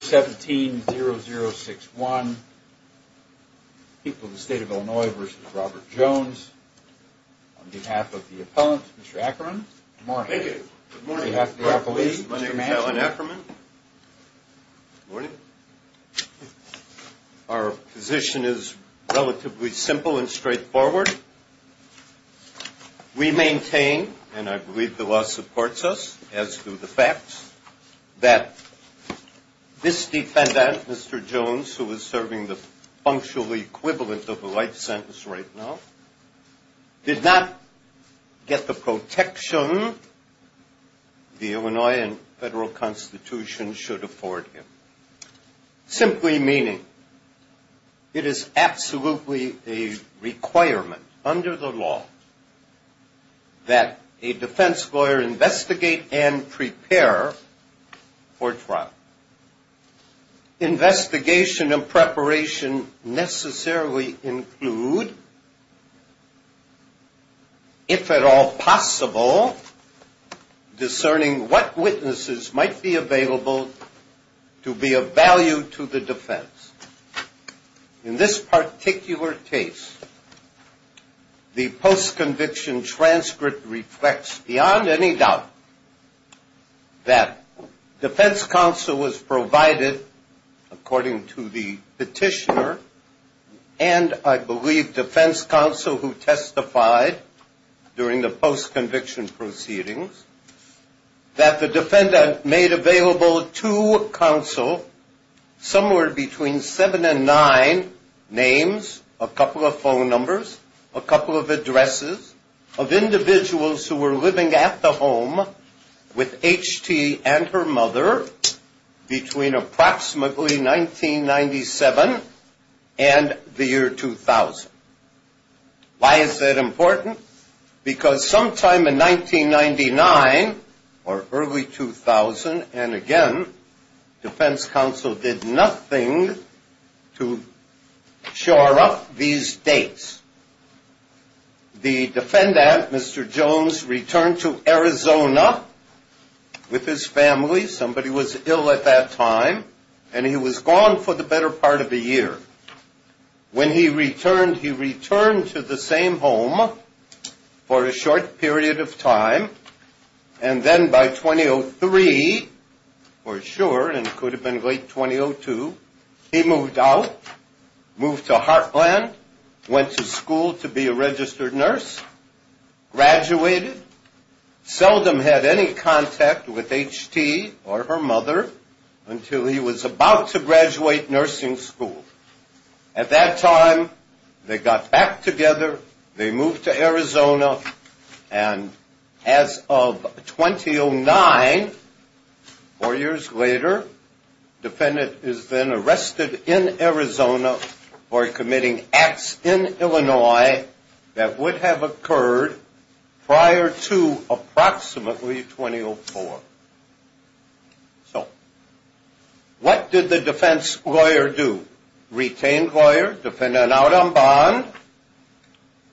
17-0061. People of the State of Illinois v. Robert Jones. On behalf of the appellant, Mr. Ackerman. Good morning. On behalf of the appellee, Mr. Manchin. Good morning. Our position is relatively simple and straightforward. We maintain, and I believe the law supports us, as do the facts, that this defendant, Mr. Jones, who is serving the functional equivalent of a life sentence right now, did not get the protection the Illinois federal constitution should afford him. Simply meaning, it is absolutely a requirement under the law that a defense lawyer investigate and prepare for trial. Investigation and preparation necessarily include, if at all possible, discerning what witnesses might be available to be of value to the defense. In this particular case, the post-conviction transcript reflects beyond any doubt that defense counsel was provided, according to the petitioner, and I believe defense counsel who testified during the post-conviction proceedings, that the defendant made available to counsel somewhere between seven and nine names, a couple of phone numbers, a couple of addresses of individuals who were living at the home with H.T. and her mother between approximately 1997 and the year 2000. Why is that important? Because sometime in 1999 or early 2000, and again, defense counsel did nothing to shore up these dates. The defendant, Mr. Jones, returned to Arizona with his family. Somebody was ill at that time, and he was gone for the better part of a year. When he returned, he returned to the same home for a short period of time, and then by 2003, or sure, it could have been late 2002, he moved out, moved to Heartland, went to school to be a registered nurse, graduated, seldom had any contact with H.T. or her mother until he was about to graduate nursing school. At that time, they got back together, they moved to Arizona, and as of 2009, four years later, the defendant is then arrested in Arizona for committing acts in Illinois that would have occurred prior to approximately 2004. So what did the defense lawyer do? Retained lawyer, defendant out on bond,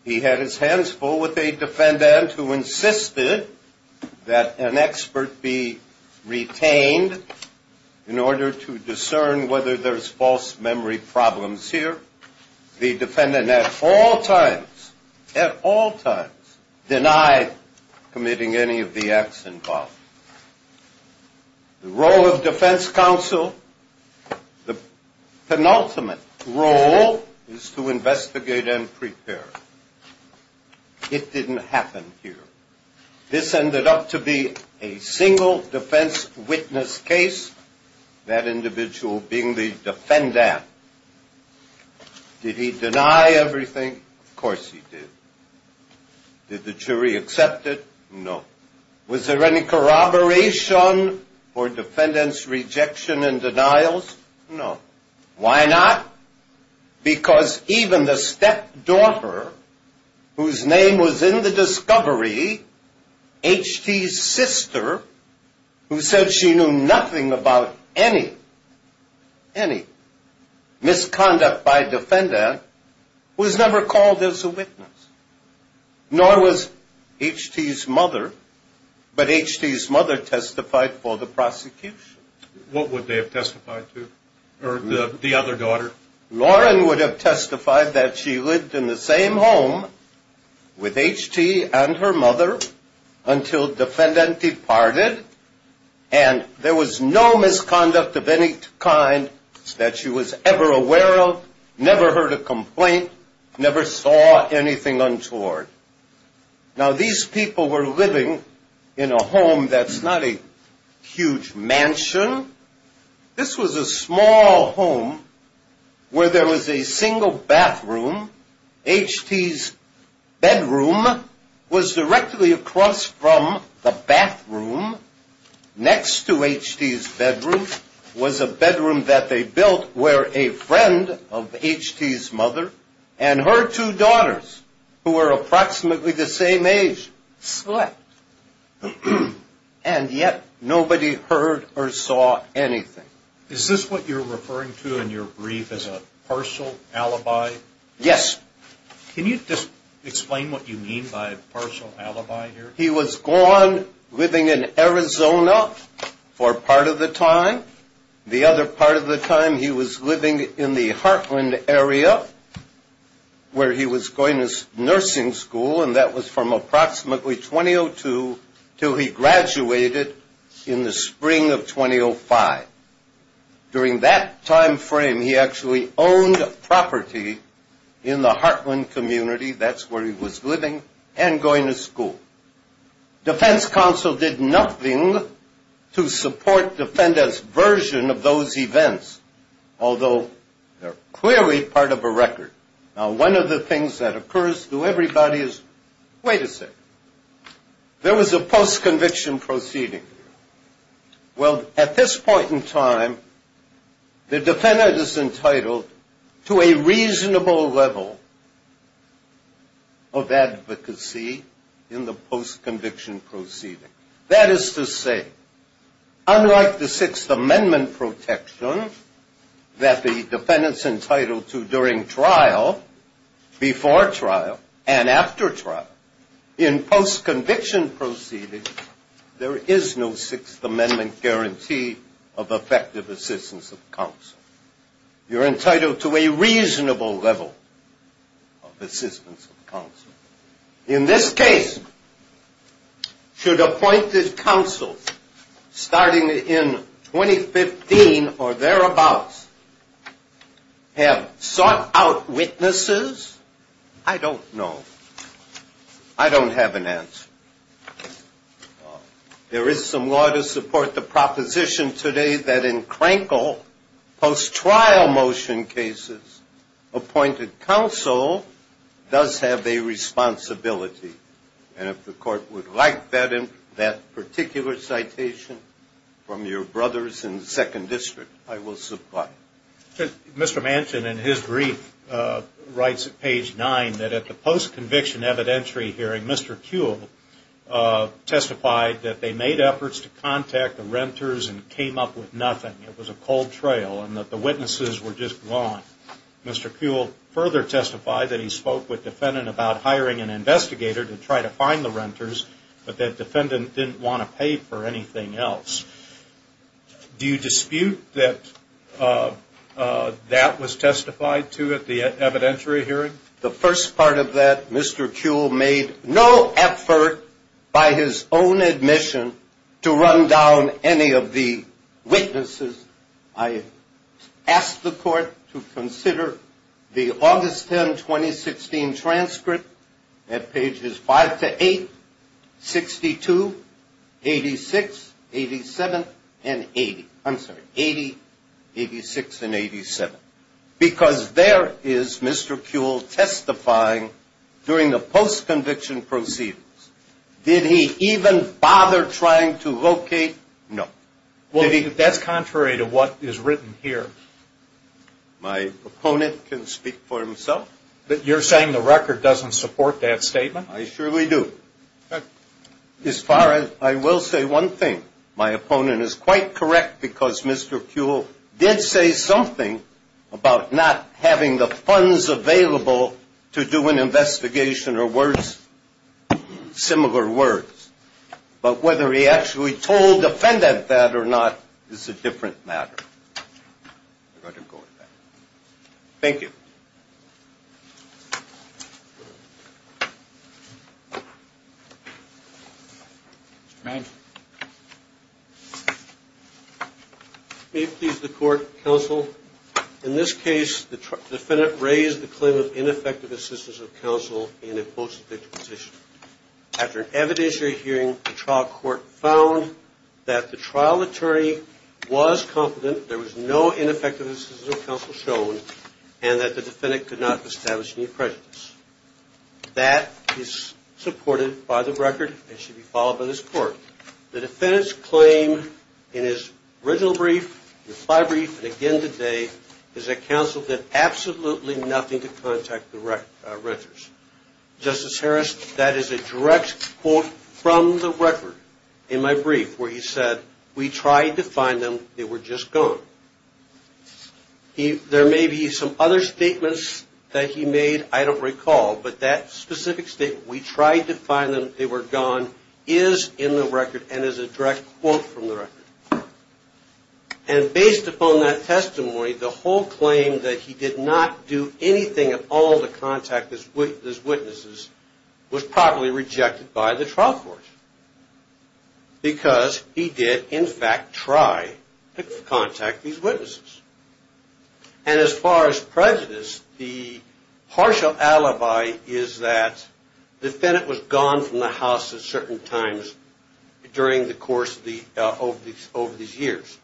he had his hands full with a defendant who insisted that an expert be retained in order to discern whether there's false memory problems here. The defendant at all times, at all times, denied committing any of the acts involved. The role of defense counsel, the penultimate role is to investigate and prepare. It didn't happen here. This ended up to be a single defense witness case, that individual being the defendant. Did he deny everything? Of course he did. Did the jury accept it? No. Was there any corroboration or defendant's rejection and denials? No. Why not? Because even the stepdaughter, whose name was in the discovery, H.T.'s sister, who said she knew nothing about any, any misconduct by defendant, was never called as a witness. Nor was H.T.'s mother, but H.T.'s mother testified for the prosecution. What would they have testified to? Or the other daughter? This was a small home where there was a single bathroom. H.T.'s bedroom was directly across from the bathroom. Next to H.T.'s bedroom was a bedroom that they built where a friend of H.T.'s mother and her two daughters, who were approximately the same age, slept. And yet nobody heard or saw anything. Is this what you're referring to in your brief as a partial alibi? Yes. Can you just explain what you mean by partial alibi here? He was gone living in Arizona for part of the time. The other part of the time he was living in the Heartland area where he was going to nursing school, and that was from approximately 2002 until he graduated in the spring of 2005. During that time frame, he actually owned property in the Heartland community. That's where he was living and going to school. Defense counsel did nothing to support defendant's version of those events, although they're clearly part of a record. Now, one of the things that occurs to everybody is, wait a second, there was a post-conviction proceeding. Well, at this point in time, the defendant is entitled to a reasonable level of advocacy in the post-conviction proceeding. That is to say, unlike the Sixth Amendment protection that the defendant's entitled to during trial, before trial, and after trial, in post-conviction proceedings, there is no Sixth Amendment guarantee of effective assistance of counsel. You're entitled to a reasonable level of assistance of counsel. In this case, should appointed counsel, starting in 2015 or thereabouts, have sought out witnesses? I don't know. I don't have an answer. There is some law to support the proposition today that in Crankle, post-trial motion cases, appointed counsel does have a responsibility. And if the court would like that particular citation from your brothers in the Second District, I will supply it. Mr. Manchin, in his brief, writes at page 9 that at the post-conviction evidentiary hearing, Mr. Kuehl testified that they made efforts to contact the renters and came up with nothing. It was a cold trail and that the witnesses were just gone. Mr. Kuehl further testified that he spoke with the defendant about hiring an investigator to try to find the renters, but that defendant didn't want to pay for anything else. Do you dispute that that was testified to at the evidentiary hearing? The first part of that, Mr. Kuehl made no effort, by his own admission, to run down any of the witnesses. I asked the court to consider the August 10, 2016 transcript at pages 5 to 8, 62, 86, 87, and 80. I'm sorry, 80, 86, and 87. Because there is Mr. Kuehl testifying during the post-conviction proceedings. Did he even bother trying to locate? No. Well, that's contrary to what is written here. My opponent can speak for himself. You're saying the record doesn't support that statement? I surely do. As far as, I will say one thing. My opponent is quite correct because Mr. Kuehl did say something about not having the funds available to do an investigation or worse, similar words. But whether he actually told the defendant that or not is a different matter. Thank you. May it please the court, counsel, in this case, the defendant raised the claim of ineffective assistance of counsel in a post-conviction position. After an evidentiary hearing, the trial court found that the trial attorney was confident there was no ineffective assistance of counsel shown, and that the defendant could not establish any prejudice. That is supported by the record and should be followed by this court. The defendant's claim in his original brief, reply brief, and again today, is that counsel did absolutely nothing to contact the renters. Justice Harris, that is a direct quote from the record in my brief where he said, we tried to find them, they were just gone. There may be some other statements that he made, I don't recall, but that specific statement, we tried to find them, they were gone, is in the record and is a direct quote from the record. And based upon that testimony, the whole claim that he did not do anything at all to contact his witnesses was properly rejected by the trial court. Because he did, in fact, try to contact these witnesses. And as far as prejudice, the partial alibi is that the defendant was gone from the house at certain times during the course of these years.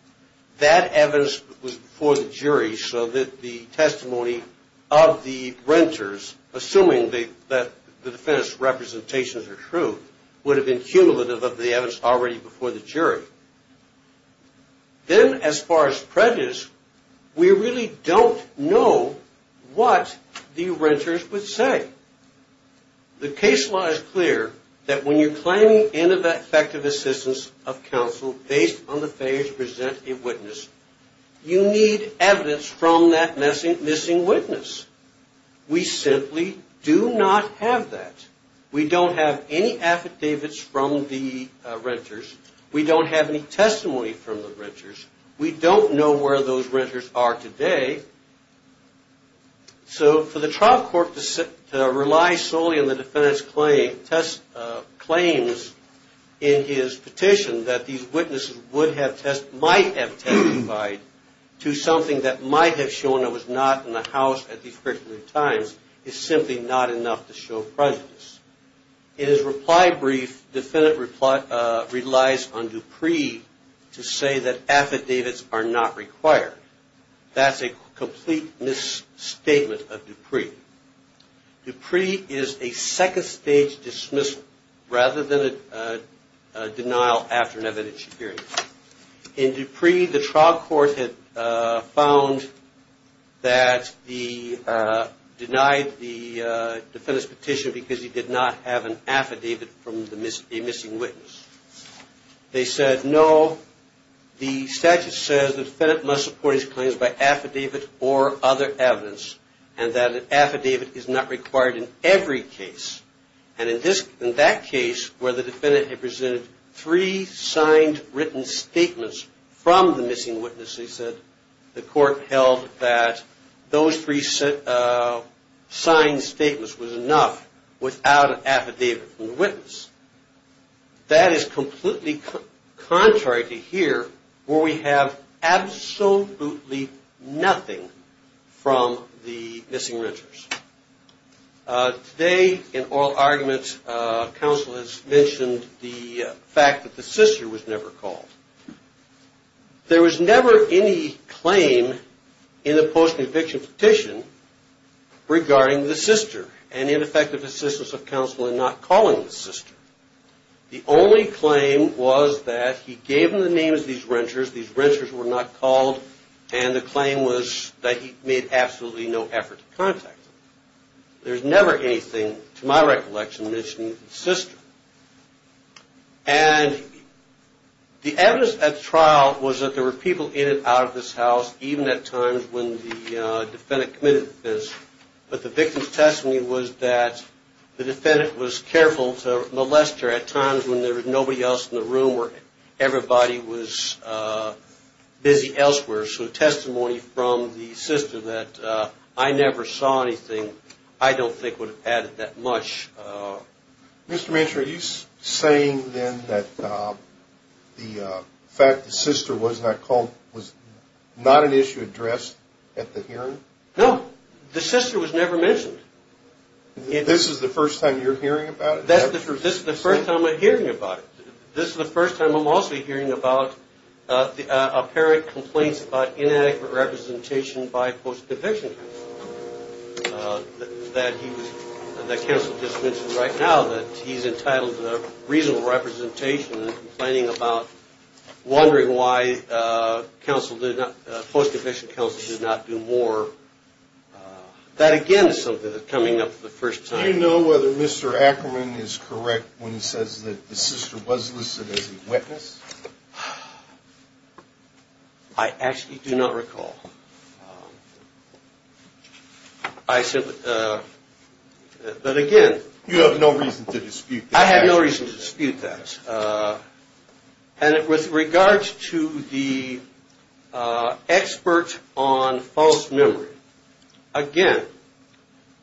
That evidence was before the jury so that the testimony of the renters, assuming that the defendant's representations are true, would have been cumulative of the evidence already before the jury. Then, as far as prejudice, we really don't know what the renters would say. The case law is clear that when you're claiming ineffective assistance of counsel based on the failure to present a witness, you need evidence from that missing witness. We simply do not have that. We don't have any affidavits from the renters. We don't have any testimony from the renters. We don't know where those renters are today. So for the trial court to rely solely on the defendant's claims in his petition that these witnesses might have testified to something that might have shown it was not in the house at these particular times is simply not enough to show prejudice. In his reply brief, the defendant relies on Dupree to say that affidavits are not required. That's a complete misstatement of Dupree. Dupree is a second-stage dismissal rather than a denial after an evidentiary hearing. In Dupree, the trial court had found that he denied the defendant's petition because he did not have an affidavit from a missing witness. They said, no, the statute says the defendant must support his claims by affidavit or other evidence, and that an affidavit is not required in every case. And in that case where the defendant had presented three signed written statements from the missing witness, they said the court held that those three signed statements was enough without an affidavit from the witness. That is completely contrary to here where we have absolutely nothing from the missing renters. Today in oral arguments, counsel has mentioned the fact that the sister was never called. There was never any claim in the post-conviction petition regarding the sister and ineffective assistance of counsel in not calling the sister. The only claim was that he gave them the names of these renters, these renters were not called, and the claim was that he made absolutely no effort to contact them. There's never anything, to my recollection, mentioning the sister. And the evidence at trial was that there were people in and out of this house, even at times when the defendant committed the offense, but the victim's testimony was that the defendant was careful to molest her at times when there was nobody else in the room or everybody was busy elsewhere. So testimony from the sister that I never saw anything I don't think would have added that much. Mr. Manchur, are you saying then that the fact the sister was not called was not an issue addressed at the hearing? No. The sister was never mentioned. This is the first time you're hearing about it? This is the first time I'm hearing about it. This is the first time I'm also hearing about apparent complaints about inadequate representation by post-conviction counsel, that counsel just mentioned right now that he's entitled to reasonable representation and complaining about wondering why post-conviction counsel did not do more. That, again, is something that's coming up for the first time. Do you know whether Mr. Ackerman is correct when he says that the sister was listed as a witness? I actually do not recall. But again... You have no reason to dispute that. I have no reason to dispute that. And with regards to the expert on false memory, again,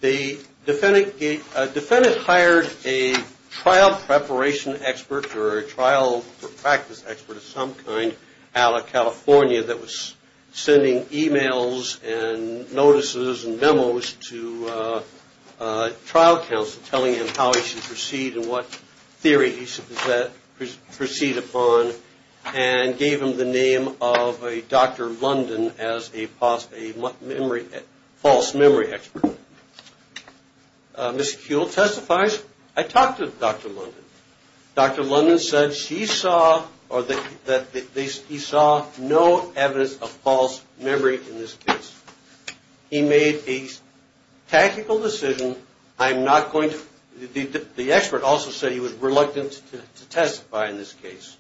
the defendant hired a trial preparation expert or a trial practice expert of some kind out of California that was sending e-mails and notices and memos to trial counsel telling him how he should proceed and what theory he should proceed upon and gave him the name of a Dr. London as a false memory expert. Mr. Kuehl testifies, I talked to Dr. London. Dr. London said he saw no evidence of false memory in this case. He made a tactical decision. I'm not going to... The expert also said he was reluctant to testify in this case.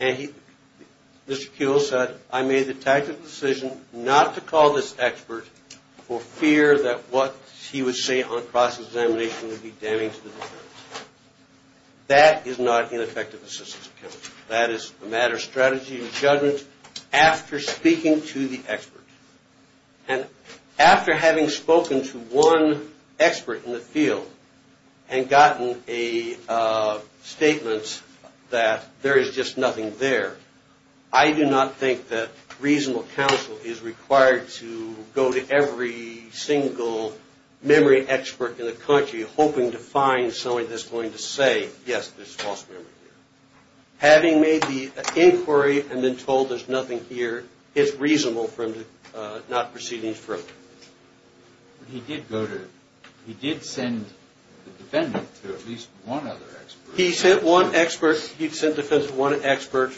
And Mr. Kuehl said, I made the tactical decision not to call this expert for fear that what he would say on cross-examination would be damaging to the defense. That is not ineffective assistance of counsel. That is a matter of strategy and judgment after speaking to the expert. And after having spoken to one expert in the field and gotten a statement that there is just nothing there, I do not think that reasonable counsel is required to go to every single memory expert in the country hoping to find something that's going to say, yes, there's false memory here. Having made the inquiry and been told there's nothing here, it's reasonable for him to not proceed any further. He did go to... He did send the defendant to at least one other expert. He sent one expert. He sent the defendant to one expert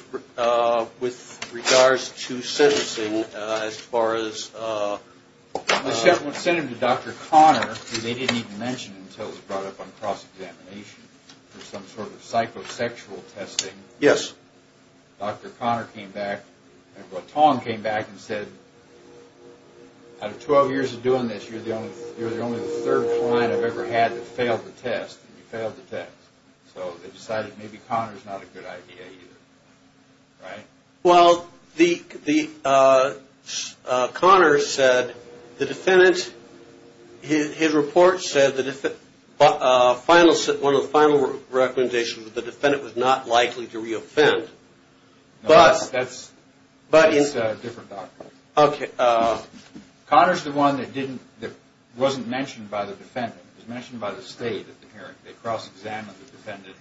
with regards to sentencing as far as... cross-examination for some sort of psychosexual testing. Yes. Dr. Conner came back... Tong came back and said, out of 12 years of doing this, you're the only third client I've ever had that failed the test. You failed the test. So they decided maybe Conner's not a good idea either. Right? Well, Conner said the defendant... His report said one of the final recommendations was the defendant was not likely to re-offend. No, that's a different doctor. Okay. Conner's the one that wasn't mentioned by the defendant. It was mentioned by the state at the hearing. They cross-examined the defendant.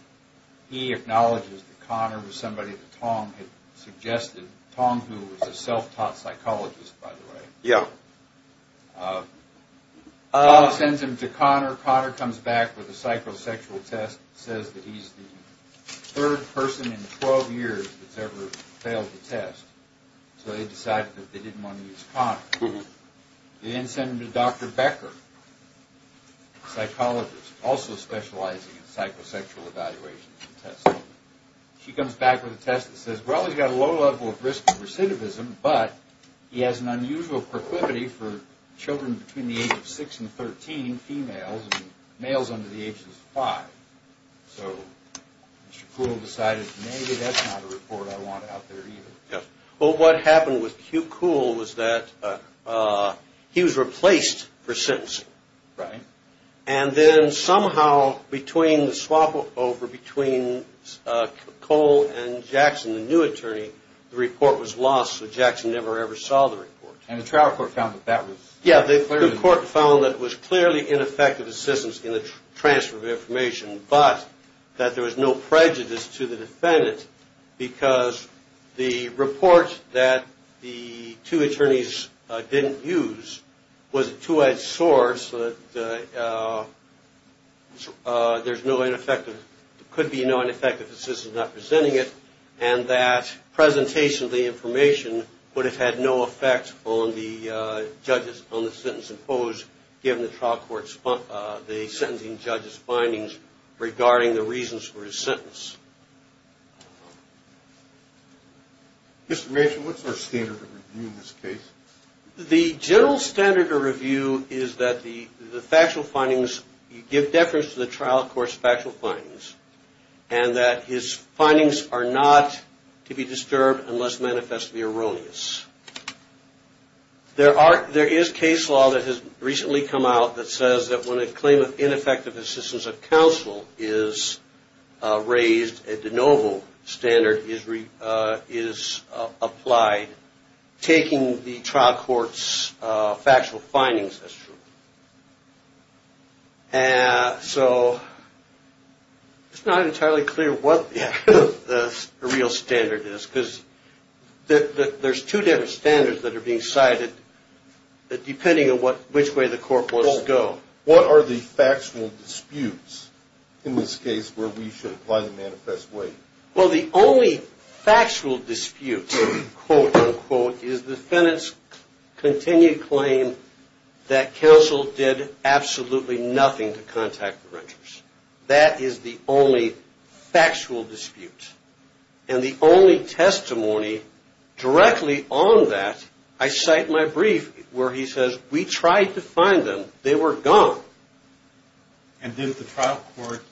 He acknowledges that Conner was somebody that Tong had suggested. Tong, who was a self-taught psychologist, by the way. Yeah. Tong sends him to Conner. Conner comes back with a psychosexual test that says that he's the third person in 12 years that's ever failed the test. So they decided that they didn't want to use Conner. They then send him to Dr. Becker, a psychologist also specializing in psychosexual evaluations and testing. She comes back with a test that says, well, he's got a low level of risk of recidivism, but he has an unusual proclivity for children between the age of 6 and 13, females, and males under the age of 5. So Shkool decided maybe that's not a report I want out there either. Yes. Well, what happened with Hugh Kool was that he was replaced for sentencing. Right. And then somehow between the swapover between Kool and Jackson, the new attorney, the report was lost. So Jackson never, ever saw the report. And the trial court found that that was… Yeah, the court found that it was clearly ineffective assistance in the transfer of information, but that there was no prejudice to the defendant because the report that the two attorneys didn't use was a two-edged sword, so that there's no ineffective, could be no ineffective assistance not presenting it, and that presentation of the information would have had no effect on the judges, on the sentence imposed, given the trial court's, the sentencing judge's findings regarding the reasons for his sentence. Mr. Rachel, what's our standard of review in this case? The general standard of review is that the factual findings give deference to the trial court's factual findings, and that his findings are not to be disturbed unless manifestly erroneous. There is case law that has recently come out that says that when a claim of ineffective assistance of counsel is raised, a de novo standard is applied, taking the trial court's factual findings as true. And so it's not entirely clear what the real standard is, because there's two different standards that are being cited depending on which way the court wants to go. What are the factual disputes in this case where we should apply the manifest way? Well, the only factual dispute, quote, unquote, is the defendant's continued claim that counsel did absolutely nothing to contact the ranchers. That is the only factual dispute. And the only testimony directly on that, I cite my brief where he says, we tried to find them. They were gone. And did the trial court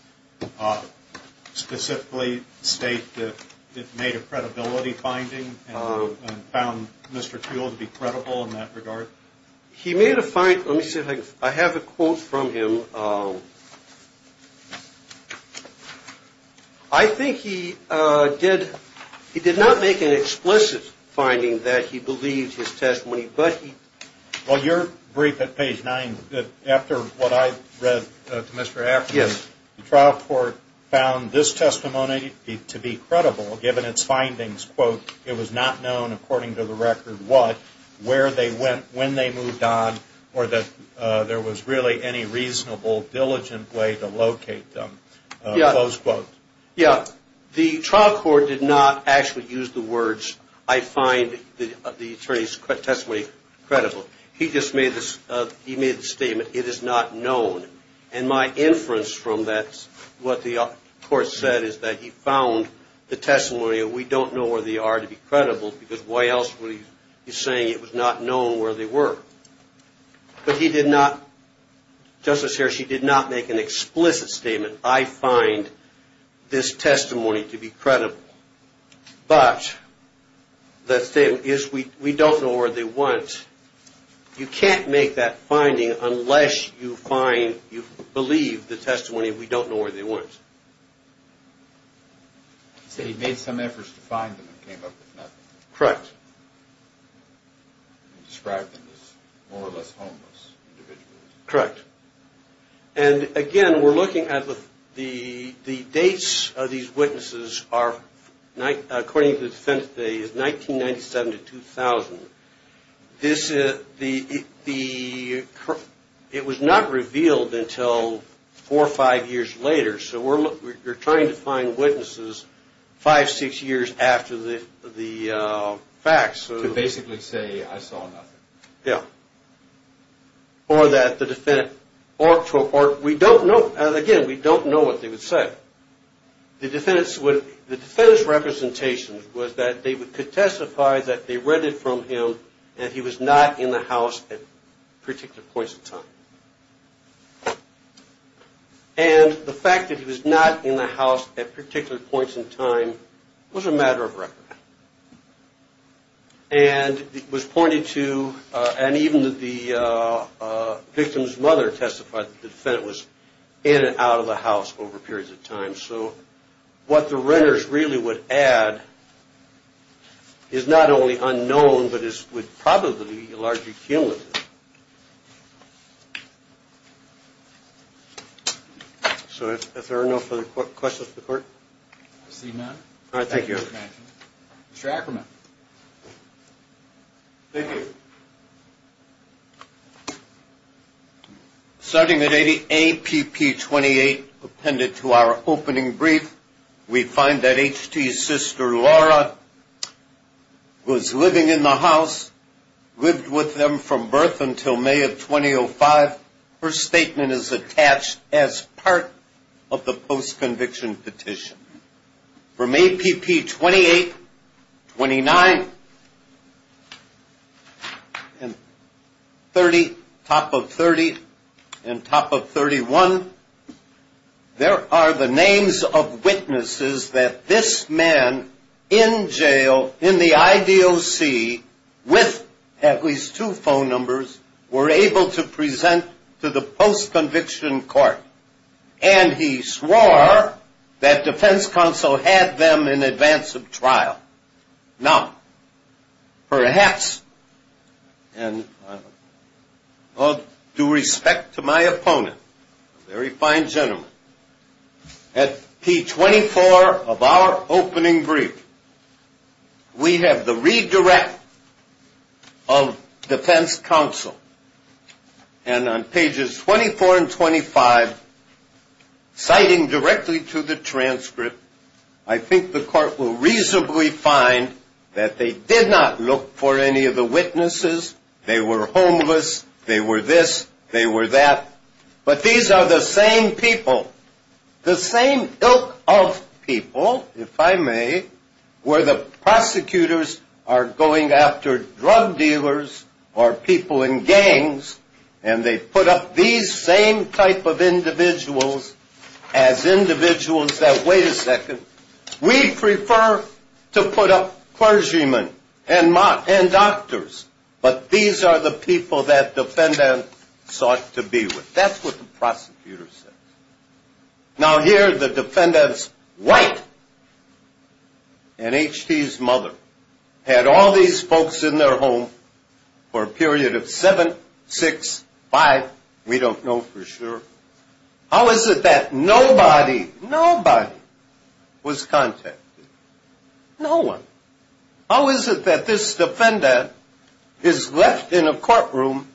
specifically state that it made a credibility finding and found Mr. Toole to be credible in that regard? He made a finding. Let me see if I have a quote from him. I think he did not make an explicit finding that he believed his testimony, but he... Well, your brief at page 9, after what I read to Mr. Afton, the trial court found this testimony to be credible given its findings, quote, it was not known according to the record what, where they went, when they moved on, or that there was really any reasonable, diligent way to locate them, close quote. Yeah. The trial court did not actually use the words, I find the attorney's testimony credible. He just made the statement, it is not known. And my inference from that, what the court said is that he found the testimony, we don't know where they are to be credible because why else would he be saying it was not known where they were. But he did not, Justice Harris, he did not make an explicit statement, I find this testimony to be credible. But the statement is we don't know where they went. You can't make that finding unless you find, you believe the testimony, we don't know where they went. He said he made some efforts to find them and came up with nothing. Correct. He described them as more or less homeless individuals. Correct. And, again, we're looking at the dates of these witnesses are, according to the defendant today, is 1997 to 2000. It was not revealed until four or five years later, so we're trying to find witnesses five, six years after the facts. To basically say I saw nothing. Yeah. Or that the defendant, or we don't know, again, we don't know what they would say. The defendant's representation was that they would testify that they read it from him and he was not in the house at particular points in time. And the fact that he was not in the house at particular points in time was a matter of record. And it was pointed to, and even the victim's mother testified that the defendant was in and out of the house over periods of time. So what the renters really would add is not only unknown, but it would probably be largely cumulative. So if there are no further questions for the court. Proceed, ma'am. All right, thank you. Mr. Ackerman. Thank you. Starting at APP 28, appended to our opening brief, we find that HT's sister, Laura, was living in the house, lived with them from birth until May of 2005. Her statement is attached as part of the post-conviction petition. From APP 28, 29, 30, top of 30, and top of 31, there are the names of witnesses that this man in jail in the IDOC with at least two phone numbers were able to present to the post-conviction court. And he swore that defense counsel had them in advance of trial. Now, perhaps, and all due respect to my opponent, a very fine gentleman, at P24 of our opening brief, we have the redirect of defense counsel. And on pages 24 and 25, citing directly to the transcript, I think the court will reasonably find that they did not look for any of the witnesses. They were homeless. They were this. They were that. But these are the same people, the same ilk of people, if I may, where the prosecutors are going after drug dealers or people in gangs, and they put up these same type of individuals as individuals that, wait a second, we prefer to put up clergymen and doctors. But these are the people that defendants sought to be with. That's what the prosecutor said. Now, here the defendant's wife and H.T.'s mother had all these folks in their home for a period of seven, six, five, we don't know for sure. How is it that nobody, nobody was contacted? No one. How is it that this defendant is left in a courtroom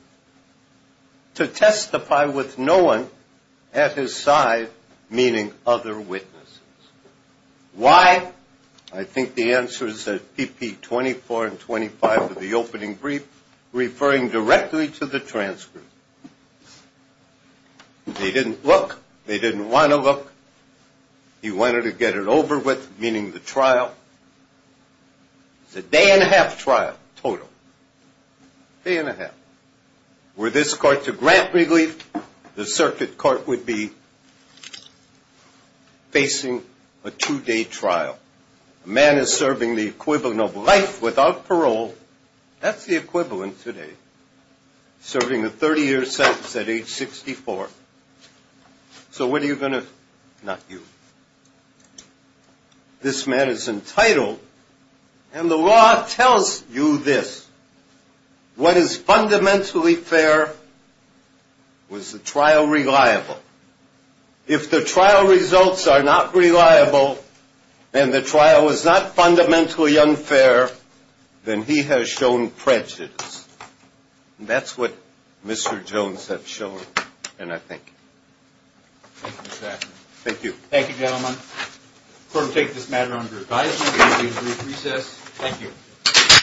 to testify with no one at his side, meaning other witnesses? Why? I think the answer is at P24 and 25 of the opening brief, referring directly to the transcript. They didn't look. They didn't want to look. He wanted to get it over with, meaning the trial. It's a day-and-a-half trial total, day-and-a-half. Were this court to grant relief, the circuit court would be facing a two-day trial. A man is serving the equivalent of life without parole. That's the equivalent today, serving a 30-year sentence at age 64. So what are you going to do? Not you. This man is entitled, and the law tells you this. What is fundamentally fair was the trial reliable. If the trial results are not reliable and the trial is not fundamentally unfair, then he has shown prejudice. That's what Mr. Jones has shown, and I thank you. Thank you, Mr. Ackerman. Thank you. Thank you, gentlemen. The court will take this matter under advisement. We will take a brief recess. Thank you.